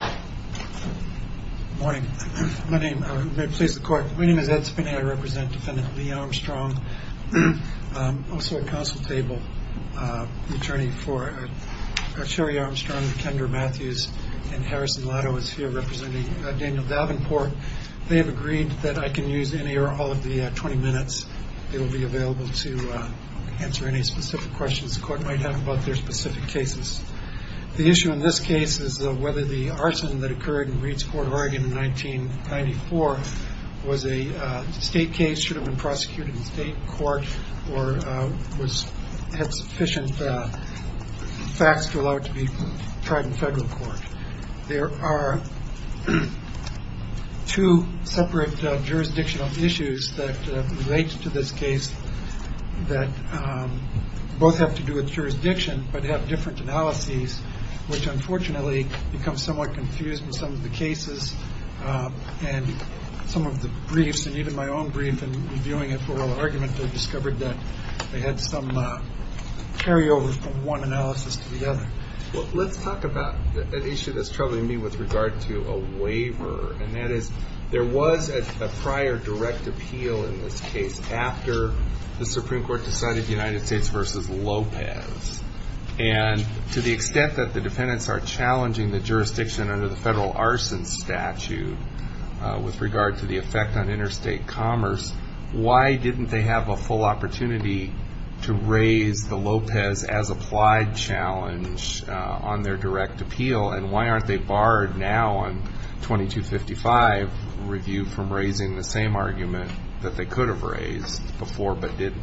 Good morning. My name is Ed Spinney. I represent Defendant Lee Armstrong. I'm also a council table attorney for Sherry Armstrong, Kendra Matthews, and Harrison Lotto is here representing Daniel Davenport. They have agreed that I can use any or all of the 20 minutes that will be available to answer any specific questions the court might have about their specific cases. The issue in this case is whether the arson that occurred in Reed's Court, Oregon in 1994 was a state case should have been prosecuted in state court or was had sufficient facts to allow it to be tried in federal court. There are two separate jurisdictional issues that relate to this case that both have to do with jurisdiction, but have different analyses, which unfortunately becomes somewhat confused. In some of the cases and some of the briefs, and even my own brief in reviewing it for oral argument, they discovered that they had some carryovers from one analysis to the other. Let's talk about an issue that's troubling me with regard to a waiver, and that is there was a prior direct appeal in this case after the Supreme Court decided United States v. Lopez. To the extent that the defendants are challenging the jurisdiction under the federal arson statute with regard to the effect on interstate commerce, why didn't they have a full opportunity to raise the Lopez as applied challenge on their direct appeal? Why aren't they barred now on 2255 review from raising the same argument that they could have raised before but didn't?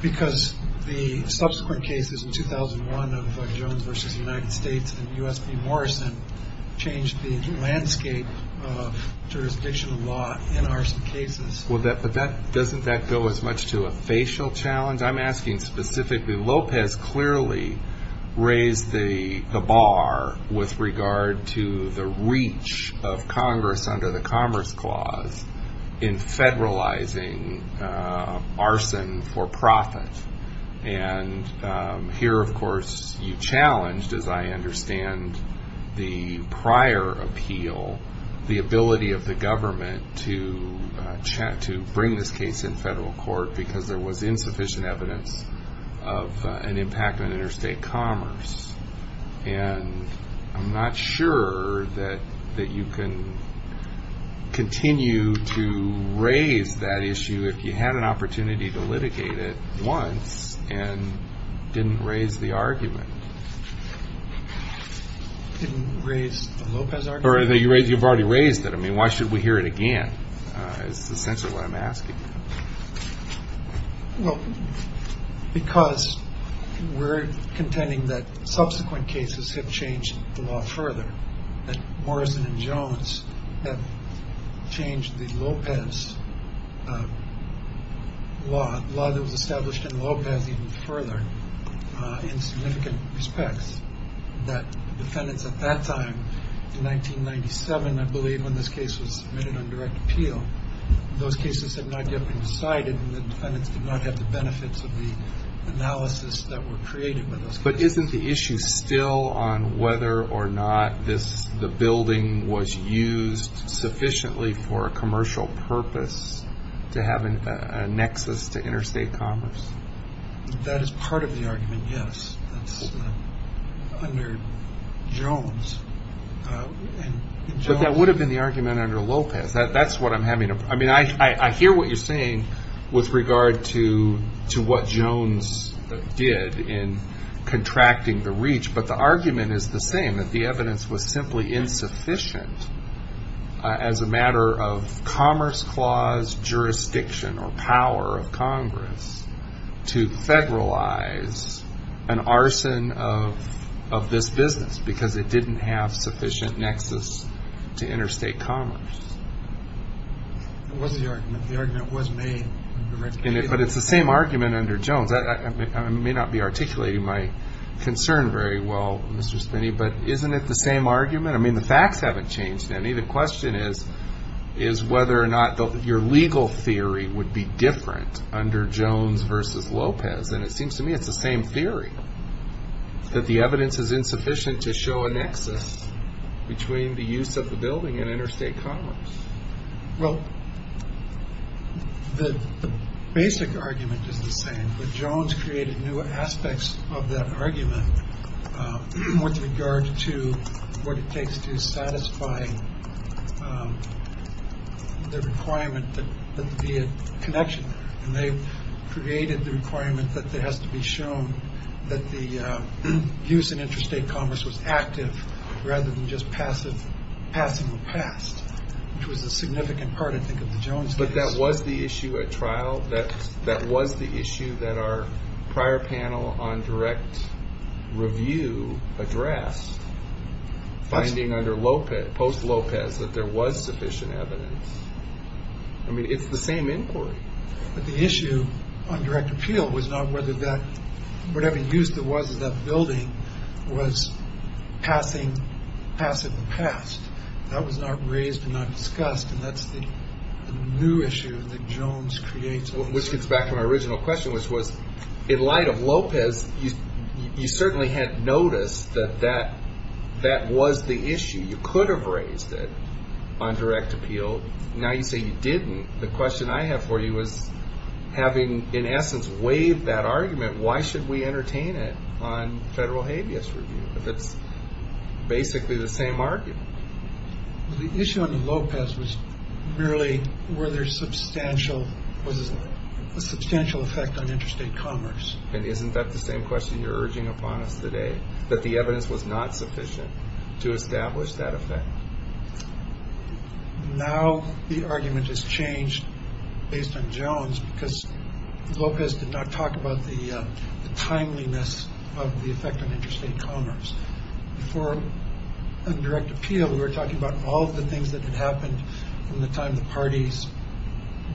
Because the subsequent cases in 2001 of Jones v. United States and U.S. v. Morrison changed the landscape of jurisdictional law in arson cases. But doesn't that go as much to a facial challenge? I'm asking specifically, Lopez clearly raised the bar with regard to the reach of Congress under the Commerce Clause in federalizing arson for profit. And here, of course, you challenged, as I understand the prior appeal, the ability of the government to bring this case in federal court because there was insufficient evidence of an impact on interstate commerce. And I'm not sure that you can continue to raise that issue if you had an opportunity to litigate it once and didn't raise the argument. Didn't raise the Lopez argument? You've already raised it. I mean, why should we hear it again is essentially what I'm asking. Well, because we're contending that subsequent cases have changed the law further, that Morrison and Jones have changed the Lopez law. The law that was established in Lopez even further in significant respects, that defendants at that time, in 1997, I believe, when this case was submitted on direct appeal, those cases had not yet been decided and the defendants did not have the benefits of the analysis that were created by those cases. Isn't the issue still on whether or not the building was used sufficiently for a commercial purpose to have a nexus to interstate commerce? That is part of the argument, yes. That's under Jones. But that would have been the argument under Lopez. That's what I'm having. I mean, I hear what you're saying with regard to what Jones did in contracting the reach. But the argument is the same, that the evidence was simply insufficient as a matter of commerce clause jurisdiction or power of Congress to federalize an arson of this business because it didn't have sufficient nexus to interstate commerce. It was the argument. The argument was made. But it's the same argument under Jones. I may not be articulating my concern very well, Mr. Spinney, but isn't it the same argument? I mean, the facts haven't changed any. The question is whether or not your legal theory would be different under Jones versus Lopez. And it seems to me it's the same theory, that the evidence is insufficient to show a nexus between the use of the building and interstate commerce. Well, the basic argument is the same. But Jones created new aspects of that argument with regard to what it takes to satisfy the requirement that the connection. And they've created the requirement that it has to be shown that the use in interstate commerce was active rather than just passing the past, which was a significant part, I think, of the Jones case. But that was the issue at trial. That was the issue that our prior panel on direct review addressed, finding under Lopez, post-Lopez, that there was sufficient evidence. I mean, it's the same inquiry. But the issue on direct appeal was not whether that – whatever use there was of that building was passing the past. That was not raised and not discussed, and that's the new issue that Jones creates. Which gets back to my original question, which was, in light of Lopez, you certainly had noticed that that was the issue. You could have raised it on direct appeal. Now you say you didn't. The question I have for you is, having in essence waived that argument, why should we entertain it on federal habeas review if it's basically the same argument? The issue under Lopez was merely, was there a substantial effect on interstate commerce? And isn't that the same question you're urging upon us today, that the evidence was not sufficient to establish that effect? Now the argument has changed based on Jones because Lopez did not talk about the timeliness of the effect on interstate commerce. Before on direct appeal, we were talking about all of the things that had happened from the time the parties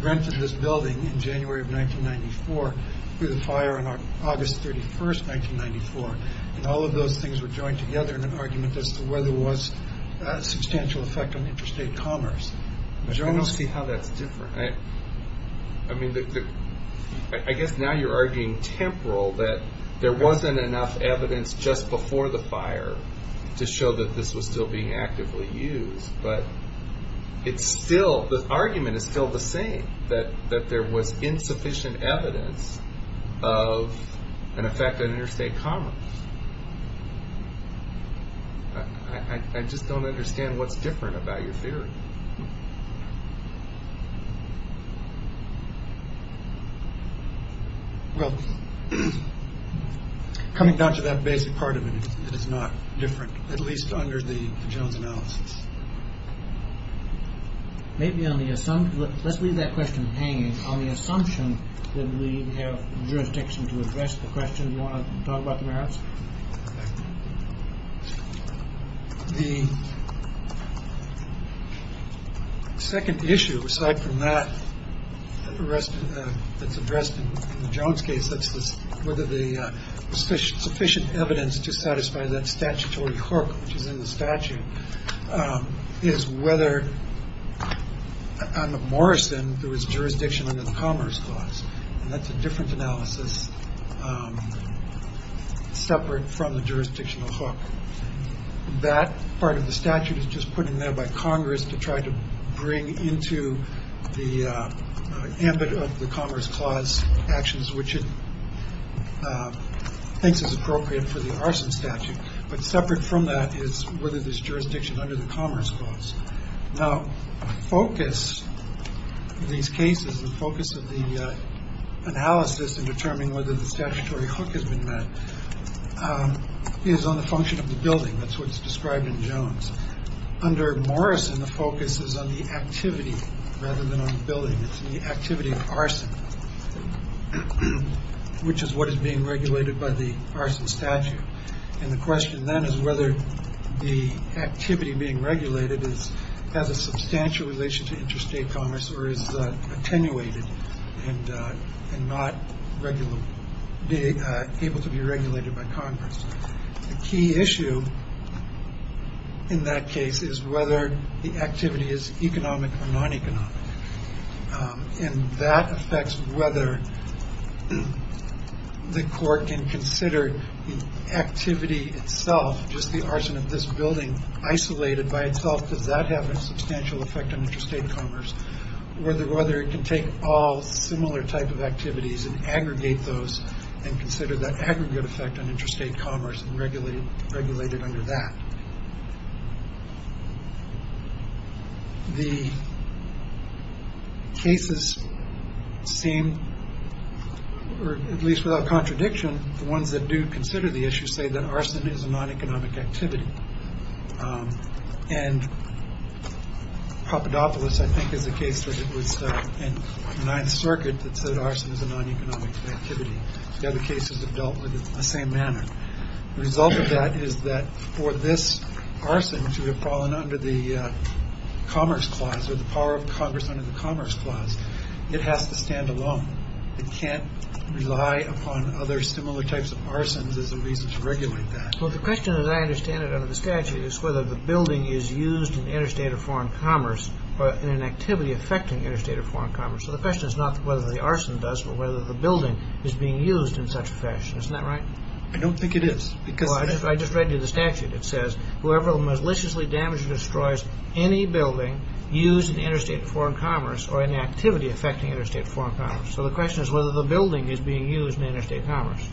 rented this building in January of 1994, through the fire on August 31st, 1994. And all of those things were joined together in an argument as to whether there was a substantial effect on interstate commerce. I don't see how that's different. I mean, I guess now you're arguing temporal that there wasn't enough evidence just before the fire to show that this was still being actively used. But it's still, the argument is still the same, that there was insufficient evidence of an effect on interstate commerce. I just don't understand what's different about your theory. Well, coming down to that basic part of it, it is not different, at least under the Jones analysis. Maybe on the assumption, let's leave that question hanging. On the assumption that we have jurisdiction to address the question, you want to talk about the merits. The second issue aside from that arrest that's addressed in the Jones case, that's whether the sufficient sufficient evidence to satisfy that statutory court, which is in the statute, is whether Morrison, there was jurisdiction under the Commerce Clause. And that's a different analysis separate from the jurisdictional hook. That part of the statute is just put in there by Congress to try to bring into the ambit of the Commerce Clause actions, which it thinks is appropriate for the arson statute. But separate from that is whether there's jurisdiction under the Commerce Clause. Now, focus these cases, the focus of the analysis and determining whether the statutory hook has been met is on the function of the building. That's what's described in Jones under Morrison. The focus is on the activity rather than on the building. It's the activity of arson, which is what is being regulated by the arson statute. And the question then is whether the activity being regulated is as a substantial relation to interstate commerce or is attenuated and not regular. Able to be regulated by Congress. The key issue. In that case is whether the activity is economic or non-economic. And that affects whether the court can consider the activity itself. Just the arson of this building isolated by itself. Does that have a substantial effect on interstate commerce? Whether whether it can take all similar type of activities and aggregate those and consider that aggregate effect on interstate commerce and regulated, regulated under that. The. Cases seem or at least without contradiction, the ones that do consider the issue say that arson is a non-economic activity. And. Papadopoulos, I think, is the case that it was the Ninth Circuit that said arson is a non-economic activity. The other cases have dealt with the same manner. The result of that is that for this arson to have fallen under the Commerce Clause or the power of Congress under the Commerce Clause. It has to stand alone. It can't rely upon other similar types of arsons as a reason to regulate that. Well, the question, as I understand it, under the statute is whether the building is used in interstate or foreign commerce or in an activity affecting interstate or foreign commerce. So the question is not whether the arson does or whether the building is being used in such a fashion. Isn't that right? I don't think it is because I just read you the statute. It says whoever maliciously damaged or destroys any building used in interstate foreign commerce or an activity affecting interstate foreign commerce. So the question is whether the building is being used in interstate commerce.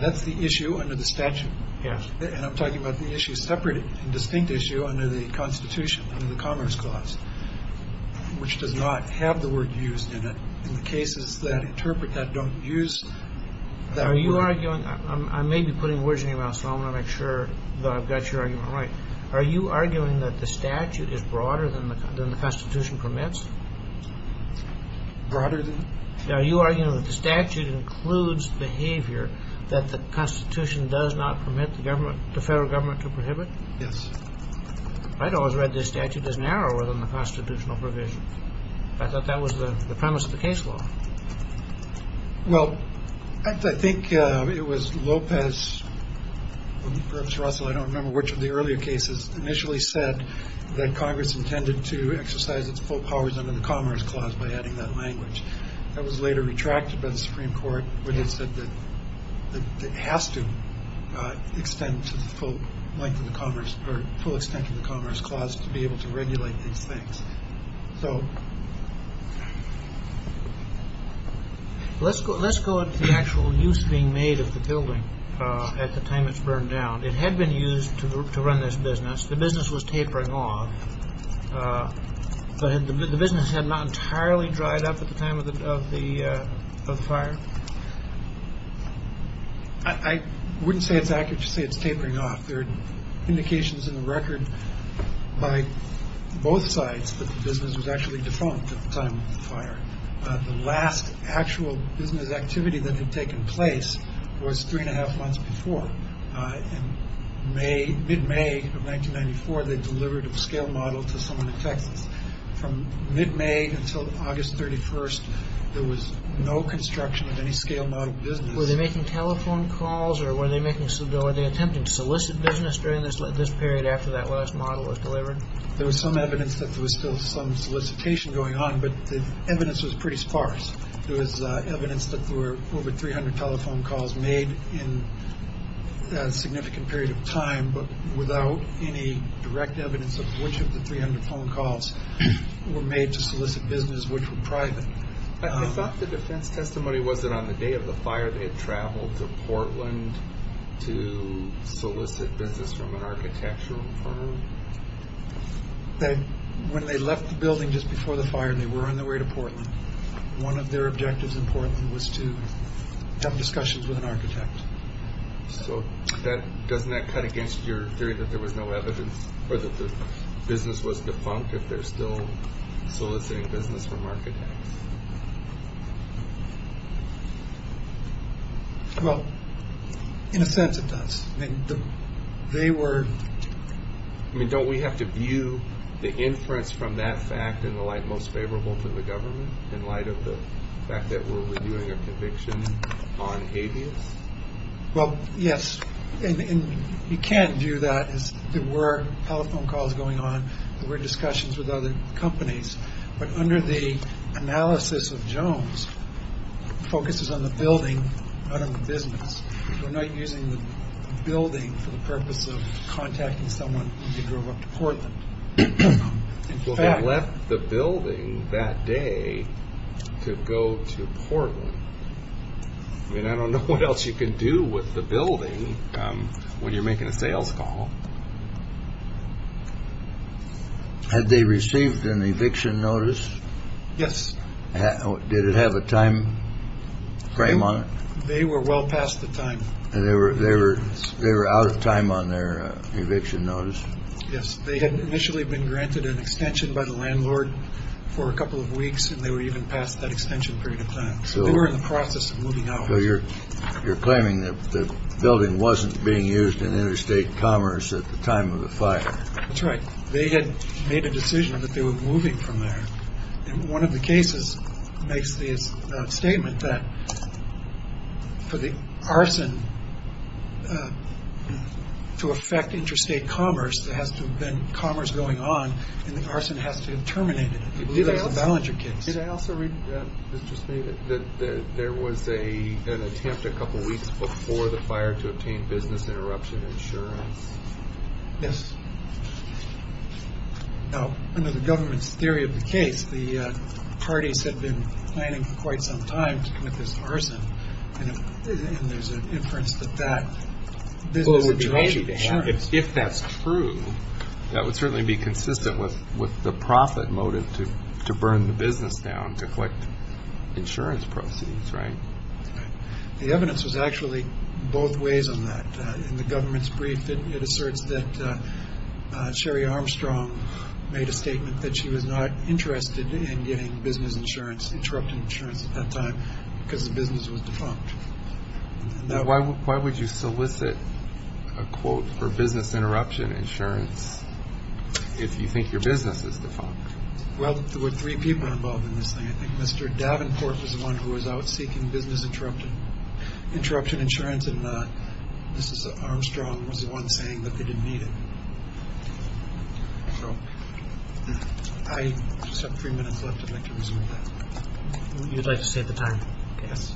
That's the issue under the statute. Yes. And I'm talking about the issue separate and distinct issue under the Constitution and the Commerce Clause, which does not have the word used in it in the cases that interpret that don't use that. Are you arguing I may be putting words in your mouth, so I want to make sure that I've got your argument right. Are you arguing that the statute is broader than the Constitution permits? Broader than? Are you arguing that the statute includes behavior that the Constitution does not permit the government, the federal government to prohibit? Yes. I'd always read this statute as narrower than the constitutional provisions. I thought that was the premise of the case law. Well, I think it was Lopez, perhaps Russell, I don't remember which of the earlier cases, initially said that Congress intended to exercise its full powers under the Commerce Clause by adding that language. That was later retracted by the Supreme Court where they said that it has to extend to the full length of the Commerce or full extent of the Commerce Clause to be able to regulate these things. So let's go let's go to the actual use being made of the building at the time it's burned down. It had been used to run this business. The business was tapering off. The business had not entirely dried up at the time of the fire. I wouldn't say it's accurate to say it's tapering off. There are indications in the record by both sides that the business was actually defunct at the time of the fire. The last actual business activity that had taken place was three and a half months before May. Mid-May of 1994, they delivered a scale model to someone in Texas from mid-May until August 31st. There was no construction of any scale model business. Were they making telephone calls or were they making some bill? Are they attempting to solicit business during this this period after that last model was delivered? There was some evidence that there was still some solicitation going on, but the evidence was pretty sparse. There was evidence that there were over 300 telephone calls made in a significant period of time, but without any direct evidence of which of the 300 phone calls were made to solicit business which were private. I thought the defense testimony was that on the day of the fire they had traveled to Portland to solicit business from an architectural firm. When they left the building just before the fire and they were on their way to Portland, one of their objectives in Portland was to have discussions with an architect. So doesn't that cut against your theory that there was no evidence or that the business was defunct if they're still soliciting business from architects? Well, in a sense it does. Don't we have to view the inference from that fact in the light most favorable to the government in light of the fact that we're reviewing a conviction on habeas? Well, yes, and you can't view that as there were telephone calls going on, there were discussions with other companies, but under the analysis of Jones focuses on the building, not on the business. We're not using the building for the purpose of contacting someone when they drove up to Portland. Well, they left the building that day to go to Portland. I mean, I don't know what else you can do with the building when you're making a sales call. Had they received an eviction notice? Yes. Did it have a time frame on it? They were well past the time. They were out of time on their eviction notice? Yes. They had initially been granted an extension by the landlord for a couple of weeks, and they were even past that extension period of time. So they were in the process of moving out. So you're claiming that the building wasn't being used in interstate commerce at the time of the fire? That's right. They had made a decision that they were moving from there. One of the cases makes the statement that for the arson to affect interstate commerce, there has to have been commerce going on, and the arson has to have terminated. I believe that's the Ballinger case. Did I also read that there was an attempt a couple of weeks before the fire to obtain business interruption insurance? Yes. Now, under the government's theory of the case, the parties had been planning for quite some time to commit this arson, and there's an inference that that business interruption insurance. If that's true, that would certainly be consistent with the profit motive to burn the business down, to collect insurance proceeds, right? The evidence was actually both ways on that. In the government's brief, it asserts that Sherry Armstrong made a statement that she was not interested in getting business interruption insurance at that time because the business was defunct. Why would you solicit a quote for business interruption insurance if you think your business is defunct? Well, there were three people involved in this thing. I think Mr. Davenport was the one who was out seeking business interruption insurance, and Mrs. Armstrong was the one saying that they didn't need it. So I just have three minutes left. I'd like to resume that. You'd like to save the time? Yes.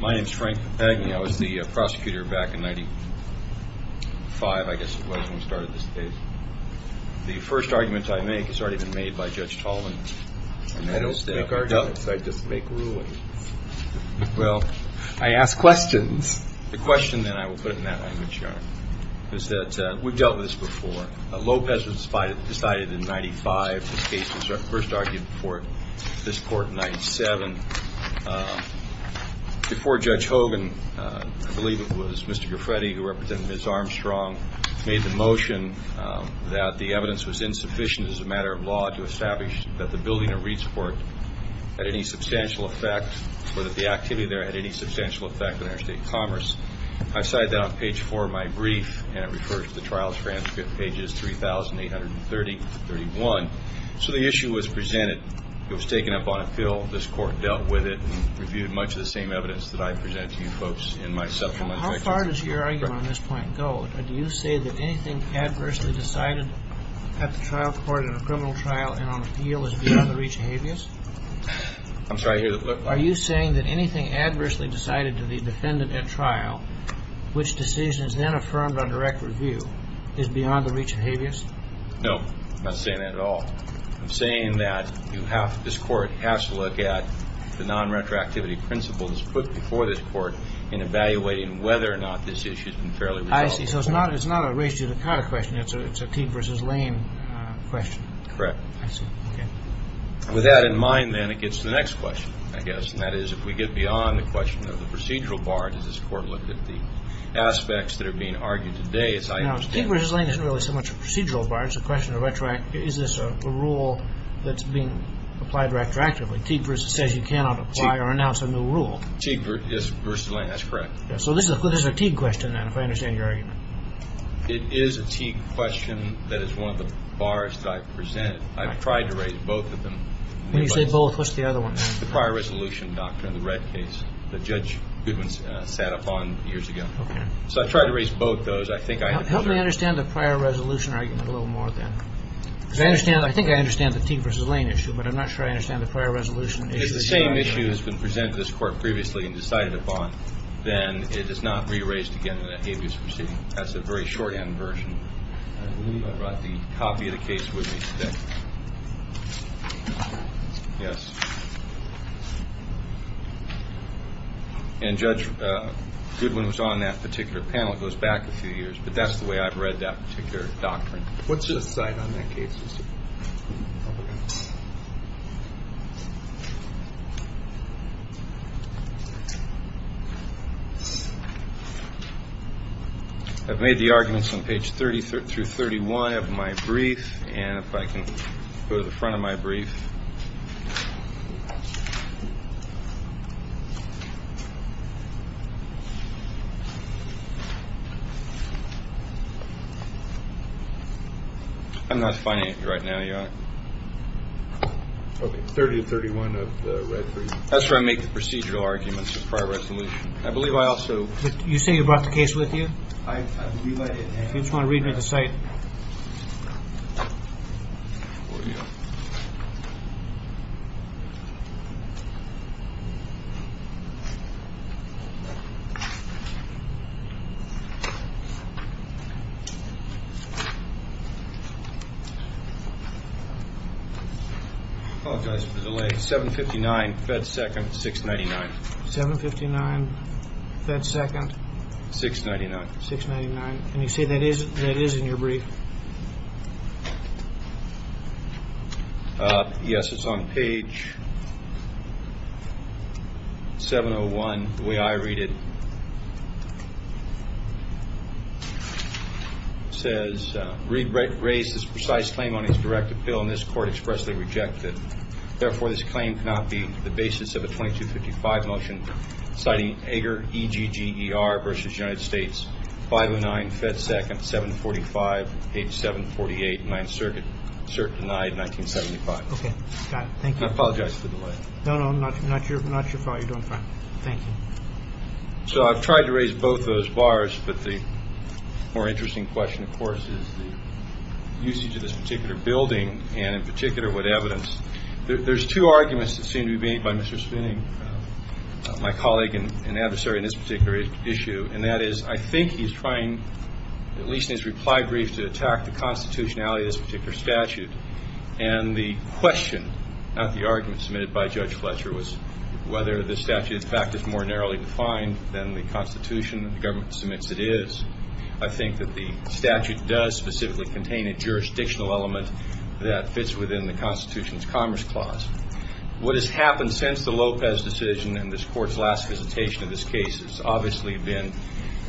My name is Frank Papagni. I was the prosecutor back in 1995, I guess it was, when we started this case. The first argument I make has already been made by Judge Tolan. I don't make arguments. I just make rulings. Well, I ask questions. The question, then, I will put in that language, Your Honor, is that we've dealt with this before. Lopez was decided in 1995. This case was first argued before this court in 1997. Before Judge Hogan, I believe it was Mr. Graffetti who represented Ms. Armstrong, made the motion that the evidence was insufficient as a matter of law to establish that the building of Reed's Court had any substantial effect or that the activity there had any substantial effect on interstate commerce. I cited that on page four of my brief, and it refers to the trial transcript, pages 3,831. So the issue was presented. It was taken up on appeal. This court dealt with it and reviewed much of the same evidence that I presented to you folks in my supplement section. How far does your argument on this point go? Do you say that anything adversely decided at the trial court in a criminal trial and on appeal is beyond the reach of habeas? I'm sorry, I hear that. Are you saying that anything adversely decided to the defendant at trial, which decision is then affirmed on direct review, is beyond the reach of habeas? No, I'm not saying that at all. I'm saying that this court has to look at the non-retroactivity principles put before this court in evaluating whether or not this issue has been fairly resolved. I see. So it's not a race-judicata question. It's a Teague v. Lane question. Correct. I see. Okay. With that in mind, then, it gets to the next question, I guess, and that is if we get beyond the question of the procedural bar, does this court look at the aspects that are being argued today? Now, Teague v. Lane isn't really so much a procedural bar. It's a question of retroactivity. Is this a rule that's being applied retroactively? Teague v. says you cannot apply or announce a new rule. Teague v. Lane, that's correct. So this is a Teague question, then, if I understand your argument. It is a Teague question that is one of the bars that I've presented. I've tried to raise both of them. When you say both, what's the other one? The prior resolution doctrine, the red case that Judge Goodman sat upon years ago. Okay. So I've tried to raise both those. Help me understand the prior resolution argument a little more, then, because I think I understand the Teague v. Lane issue, but I'm not sure I understand the prior resolution issue. If the same issue has been presented to this Court previously and decided upon, then it is not re-raised again in an habeas proceeding. That's the very shorthand version. I believe I brought the copy of the case with me today. Yes. And Judge Goodman was on that particular panel. It goes back a few years. But that's the way I've read that particular doctrine. What's your side on that case? I've made the arguments on page 30 through 31 of my brief, and if I can go to the front of my brief. I'm not finding it right now, Your Honor. Okay. 30 and 31 of the red brief. That's where I make the procedural arguments, the prior resolution. I believe I also – You say you brought the case with you? I've re-read it. If you just want to read me the site. Okay. Apologize for the delay. 759 Fed 2nd, 699. 759 Fed 2nd. 699. 699. Let me see if that is in your brief. Yes, it's on page 701, the way I read it. It says, Reid raised this precise claim on his direct appeal, and this court expressly rejected it. Therefore, this claim cannot be the basis of a 2255 motion, citing Eger, E-G-G-E-R versus United States, 509 Fed 2nd, 745, page 748, Ninth Circuit, cert denied, 1975. Okay. Got it. Thank you. I apologize for the delay. No, no, not your fault. You're doing fine. Thank you. So I've tried to raise both those bars, but the more interesting question, of course, is the usage of this particular building, and in particular, what evidence. There's two arguments that seem to be made by Mr. Spooning, my colleague and adversary in this particular issue, and that is I think he's trying, at least in his reply brief, to attack the constitutionality of this particular statute. And the question, not the argument submitted by Judge Fletcher, was whether the statute, in fact, is more narrowly defined than the constitution that the government submits it is. I think that the statute does specifically contain a jurisdictional element that fits within the Constitution's Commerce Clause. What has happened since the Lopez decision and this Court's last visitation of this case has obviously been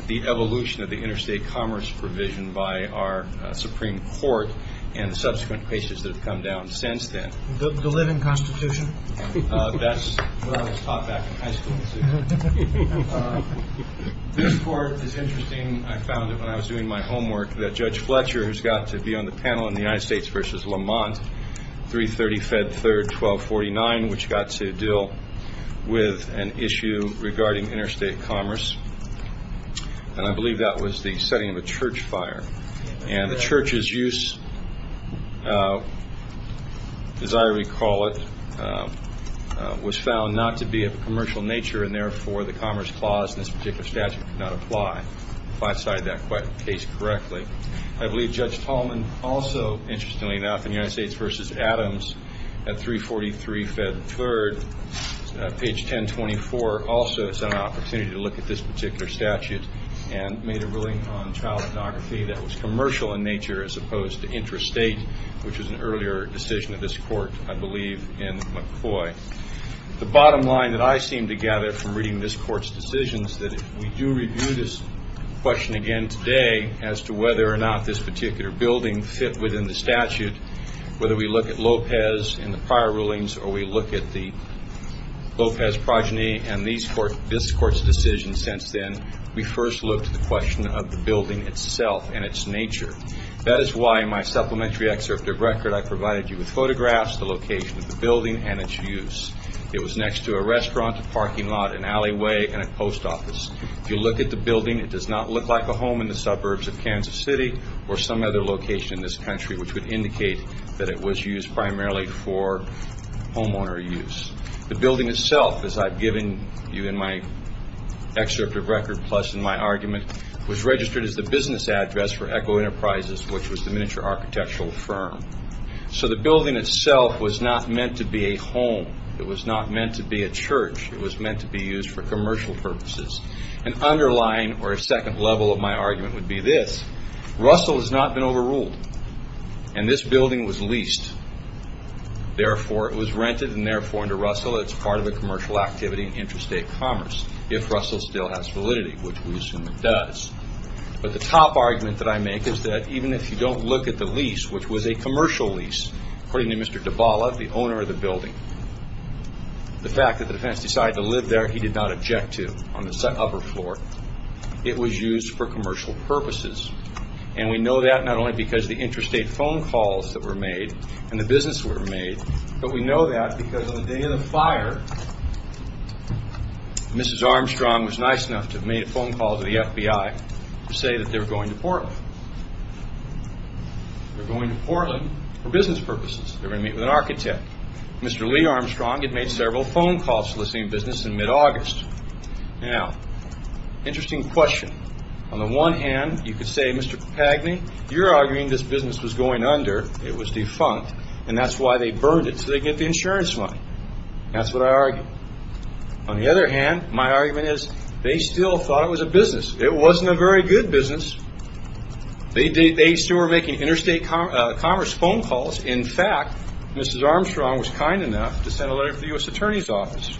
the evolution of the interstate commerce provision by our Supreme Court and the subsequent cases that have come down since then. The living Constitution. That's what I was taught back in high school. This Court is interesting. I found it when I was doing my homework that Judge Fletcher, who's got to be on the panel in the United States v. Lamont, 330 Fed 3rd 1249, which got to deal with an issue regarding interstate commerce, and I believe that was the setting of a church fire. And the church's use, as I recall it, was found not to be of a commercial nature, and therefore the Commerce Clause in this particular statute could not apply. I believe Judge Tolman also, interestingly enough, in the United States v. Adams, at 343 Fed 3rd, page 1024, also sent an opportunity to look at this particular statute and made a ruling on child pornography that was commercial in nature as opposed to interstate, which was an earlier decision of this Court, I believe, in McCoy. The bottom line that I seem to gather from reading this Court's decisions that if we do review this question again today as to whether or not this particular building fit within the statute, whether we look at Lopez in the prior rulings or we look at the Lopez progeny and this Court's decision since then, we first look to the question of the building itself and its nature. That is why in my supplementary excerpt of record I provided you with photographs, the location of the building and its use. It was next to a restaurant, a parking lot, an alleyway, and a post office. If you look at the building, it does not look like a home in the suburbs of Kansas City or some other location in this country, which would indicate that it was used primarily for homeowner use. The building itself, as I've given you in my excerpt of record, plus in my argument, was registered as the business address for Echo Enterprises, which was the miniature architectural firm. The building itself was not meant to be a home. It was not meant to be a church. It was meant to be used for commercial purposes. An underlying or a second level of my argument would be this. Russell has not been overruled, and this building was leased. Therefore, it was rented, and therefore, under Russell, it's part of a commercial activity in interstate commerce, if Russell still has validity, which we assume it does. But the top argument that I make is that even if you don't look at the lease, which was a commercial lease, according to Mr. DiBala, the owner of the building, the fact that the defense decided to live there, he did not object to on the upper floor. It was used for commercial purposes. And we know that not only because of the interstate phone calls that were made and the business that were made, but we know that because on the day of the fire, Mrs. Armstrong was nice enough to have made a phone call to the FBI to say that they were going to Portland. They were going to Portland for business purposes. They were going to meet with an architect. Mr. Lee Armstrong had made several phone calls to the same business in mid-August. Now, interesting question. On the one hand, you could say, Mr. Pagny, you're arguing this business was going under. It was defunct, and that's why they burned it, so they get the insurance money. That's what I argue. On the other hand, my argument is they still thought it was a business. It wasn't a very good business. They still were making interstate commerce phone calls. In fact, Mrs. Armstrong was kind enough to send a letter to the U.S. Attorney's Office,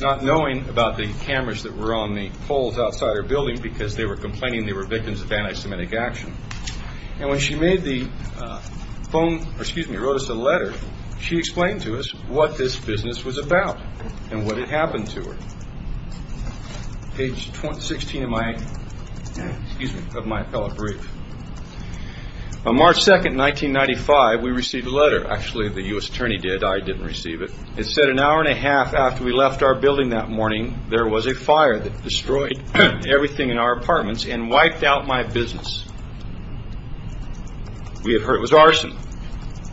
not knowing about the cameras that were on the poles outside her building because they were complaining they were victims of anti-Semitic action. When she wrote us a letter, she explained to us what this business was about and what had happened to her. Page 16 of my appellate brief. On March 2, 1995, we received a letter. Actually, the U.S. Attorney did. I didn't receive it. It said an hour and a half after we left our building that morning, there was a fire that destroyed everything in our apartments and wiped out my business. We had heard it was arson.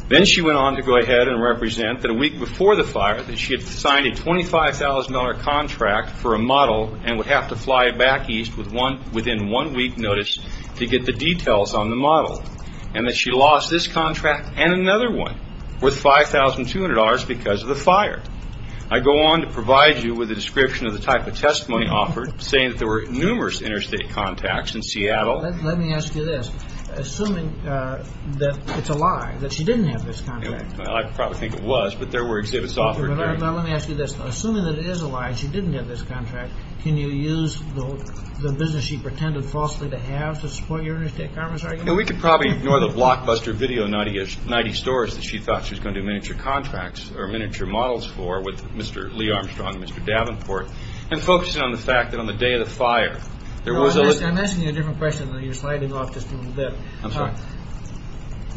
Then she went on to go ahead and represent that a week before the fire that she had signed a $25,000 contract for a model and would have to fly back east within one week notice to get the details on the model, and that she lost this contract and another one worth $5,200 because of the fire. I go on to provide you with a description of the type of testimony offered, saying that there were numerous interstate contacts in Seattle. Let me ask you this. Assuming that it's a lie that she didn't have this contract. I probably think it was, but there were exhibits offered. Let me ask you this. Assuming that it is a lie that she didn't have this contract, can you use the business she pretended falsely to have to support your interstate commerce argument? We could probably ignore the blockbuster video, that she thought she was going to do miniature contracts or miniature models for with Mr. Lee Armstrong and Mr. Davenport, and focus in on the fact that on the day of the fire there was a- I'm asking you a different question. You're sliding off just a little bit. I'm sorry.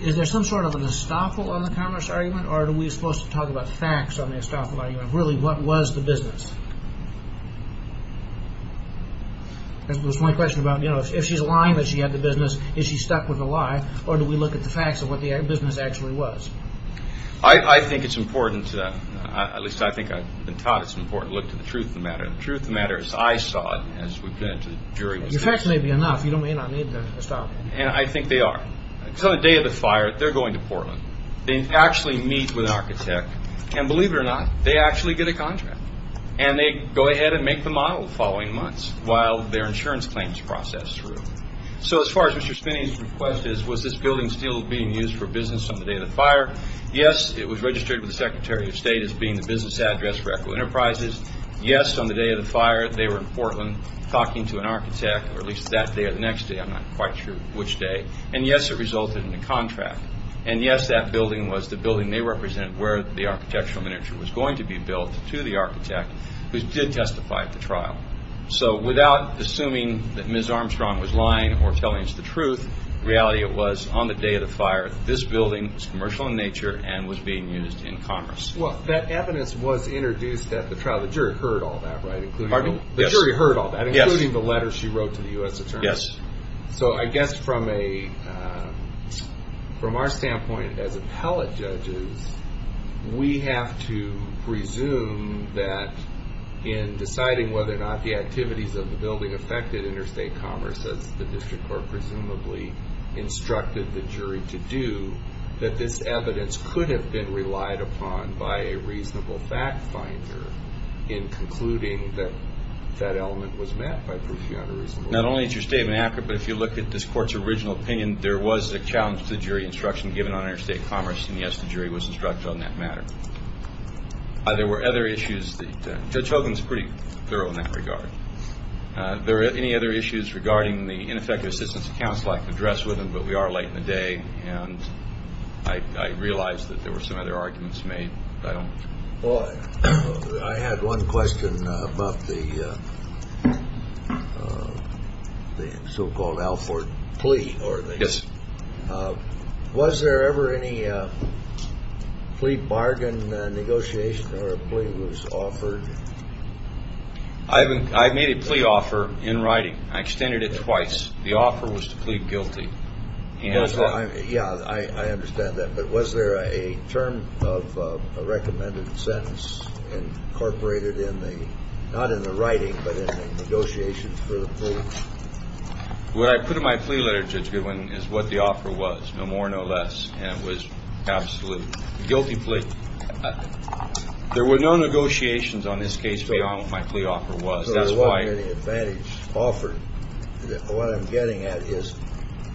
Is there some sort of an estoppel on the commerce argument, or are we supposed to talk about facts on the estoppel argument? Really, what was the business? That was my question about if she's lying that she had the business, is she stuck with a lie, or do we look at the facts of what the business actually was? I think it's important to- at least I think I've been taught it's important to look to the truth of the matter. The truth of the matter is I saw it as we've been to the jury. Your facts may be enough. You may not need the estoppel. I think they are. On the day of the fire, they're going to Portland. They actually meet with an architect, and believe it or not, they actually get a contract. They go ahead and make the model the following months while their insurance claims process through. As far as Mr. Spinney's request is, was this building still being used for business on the day of the fire? Yes, it was registered with the Secretary of State as being the business address for Echo Enterprises. Yes, on the day of the fire, they were in Portland talking to an architect, or at least that day or the next day. I'm not quite sure which day. Yes, it resulted in a contract. Yes, that building was the building they represented where the architectural miniature was going to be built to the architect, who did testify at the trial. Without assuming that Ms. Armstrong was lying or telling us the truth, the reality was, on the day of the fire, this building was commercial in nature and was being used in commerce. That evidence was introduced at the trial. The jury heard all that, right? Pardon? The jury heard all that, including the letter she wrote to the U.S. Attorney. Yes. I guess from our standpoint as appellate judges, we have to presume that in deciding whether or not the activities of the building affected interstate commerce, as the district court presumably instructed the jury to do, that this evidence could have been relied upon by a reasonable fact finder in concluding that that element was met by Profiona reasonably. Not only is your statement accurate, but if you look at this court's original opinion, there was a challenge to the jury instruction given on interstate commerce, and yes, the jury was instructed on that matter. There were other issues. Judge Hogan is pretty thorough in that regard. Are there any other issues regarding the ineffective assistance of counsel I can address with him, but we are late in the day, and I realize that there were some other arguments made. Well, I had one question about the so-called Alford plea. Yes. Was there ever any plea bargain negotiation or a plea was offered? I made a plea offer in writing. I extended it twice. The offer was to plead guilty. Yeah, I understand that. But was there a term of a recommended sentence incorporated in the, not in the writing, but in the negotiations for the plea? What I put in my plea letter, Judge Goodwin, is what the offer was, no more, no less, and it was absolutely a guilty plea. There were no negotiations on this case beyond what my plea offer was. So there wasn't any advantage offered. What I'm getting at is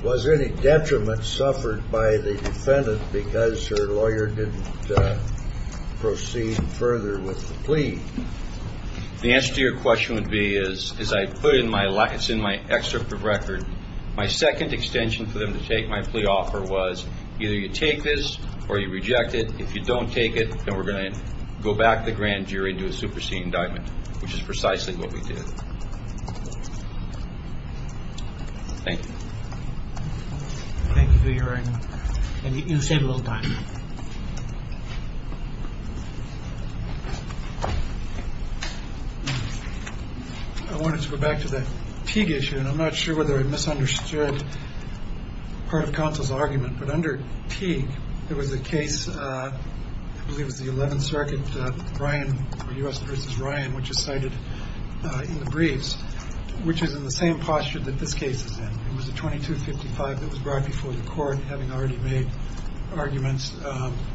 was there any detriment suffered by the defendant because her lawyer didn't proceed further with the plea? The answer to your question would be, as I put in my, it's in my excerpt of record, my second extension for them to take my plea offer was either you take this or you reject it. If you don't take it, then we're going to go back to the grand jury and do a superseding indictment, which is precisely what we did. Thank you. Thank you for your, and you save a little time. I wanted to go back to the Teague issue, and I'm not sure whether I misunderstood part of counsel's argument, but under Teague there was a case, I believe it was the 11th Circuit, Ryan, U.S. v. Ryan, which is cited in the briefs, which is in the same posture that this case is in. It was a 2255 that was brought before the court, having already made arguments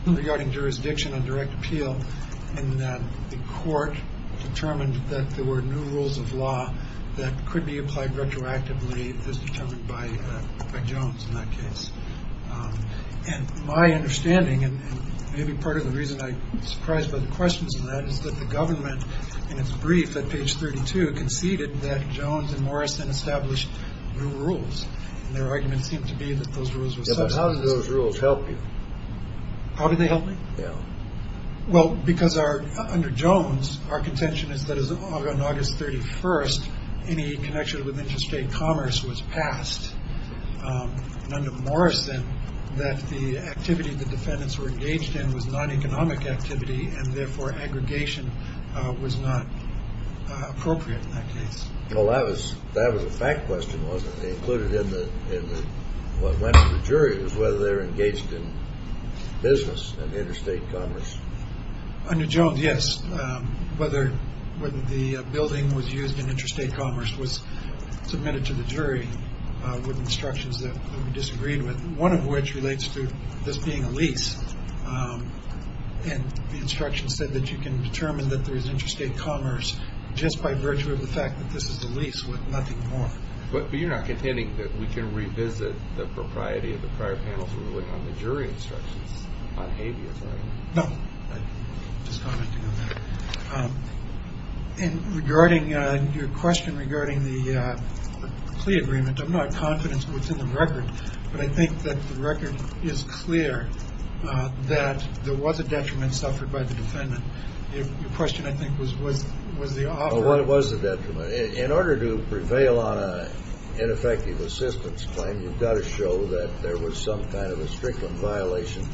regarding jurisdiction and direct appeal, and the court determined that there were new rules of law that could be applied retroactively, as determined by Jones in that case. And my understanding, and maybe part of the reason I'm surprised by the questions in that, is that the government, in its brief at page 32, conceded that Jones and Morrison established new rules, and their argument seemed to be that those rules were substantive. Yeah, but how did those rules help you? How did they help me? Yeah. Well, because under Jones, our contention is that on August 31st, any connection with interstate commerce was passed, and under Morrison, that the activity the defendants were engaged in was non-economic activity, and therefore aggregation was not appropriate in that case. Well, that was a fact question, wasn't it? They included in what went to the jury was whether they were engaged in business and interstate commerce. Under Jones, yes, whether the building was used in interstate commerce was submitted to the jury with instructions that we disagreed with, one of which relates to this being a lease. And the instructions said that you can determine that there is interstate commerce just by virtue of the fact that this is a lease with nothing more. But you're not contending that we can revisit the propriety of the prior panel's ruling on the jury instructions on habeas, are you? No. I'm just commenting on that. And regarding your question regarding the plea agreement, I'm not confident what's in the record, but I think that the record is clear that there was a detriment suffered by the defendant. Your question, I think, was the offer. Well, what was the detriment? In order to prevail on an ineffective assistance claim, you've got to show that there was some kind of a strickland violation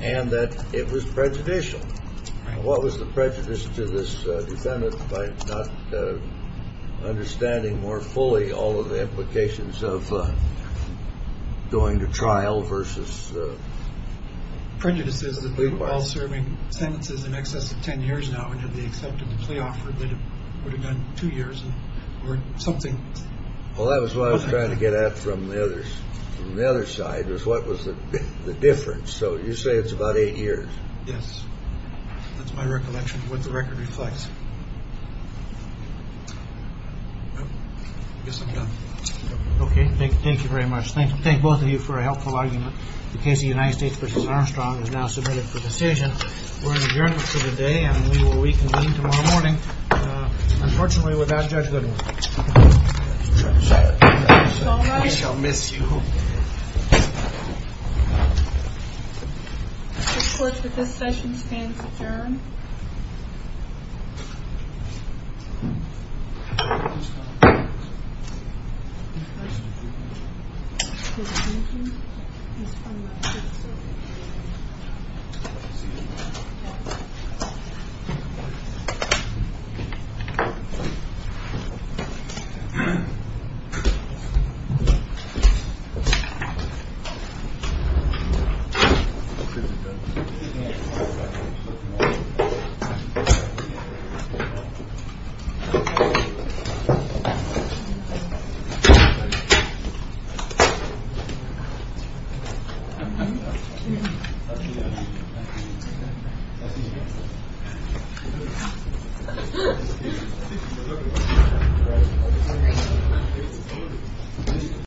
and that it was prejudicial. What was the prejudice to this defendant by not understanding more fully all of the implications of going to trial versus? Prejudice is that we were all serving sentences in excess of 10 years now and had they accepted the plea offer, they would have gone two years or something. Well, that was what I was trying to get at from the other side was what was the difference. So you say it's about eight years. Yes, that's my recollection of what the record reflects. Yes, I'm done. Okay. Thank you very much. Thank both of you for a helpful argument. The case of the United States versus Armstrong is now submitted for decision. We're adjourned for the day and we will reconvene tomorrow morning. Unfortunately, without Judge Goodwin. I shall miss you. The court for this session stands adjourned. Thank you. Thank you.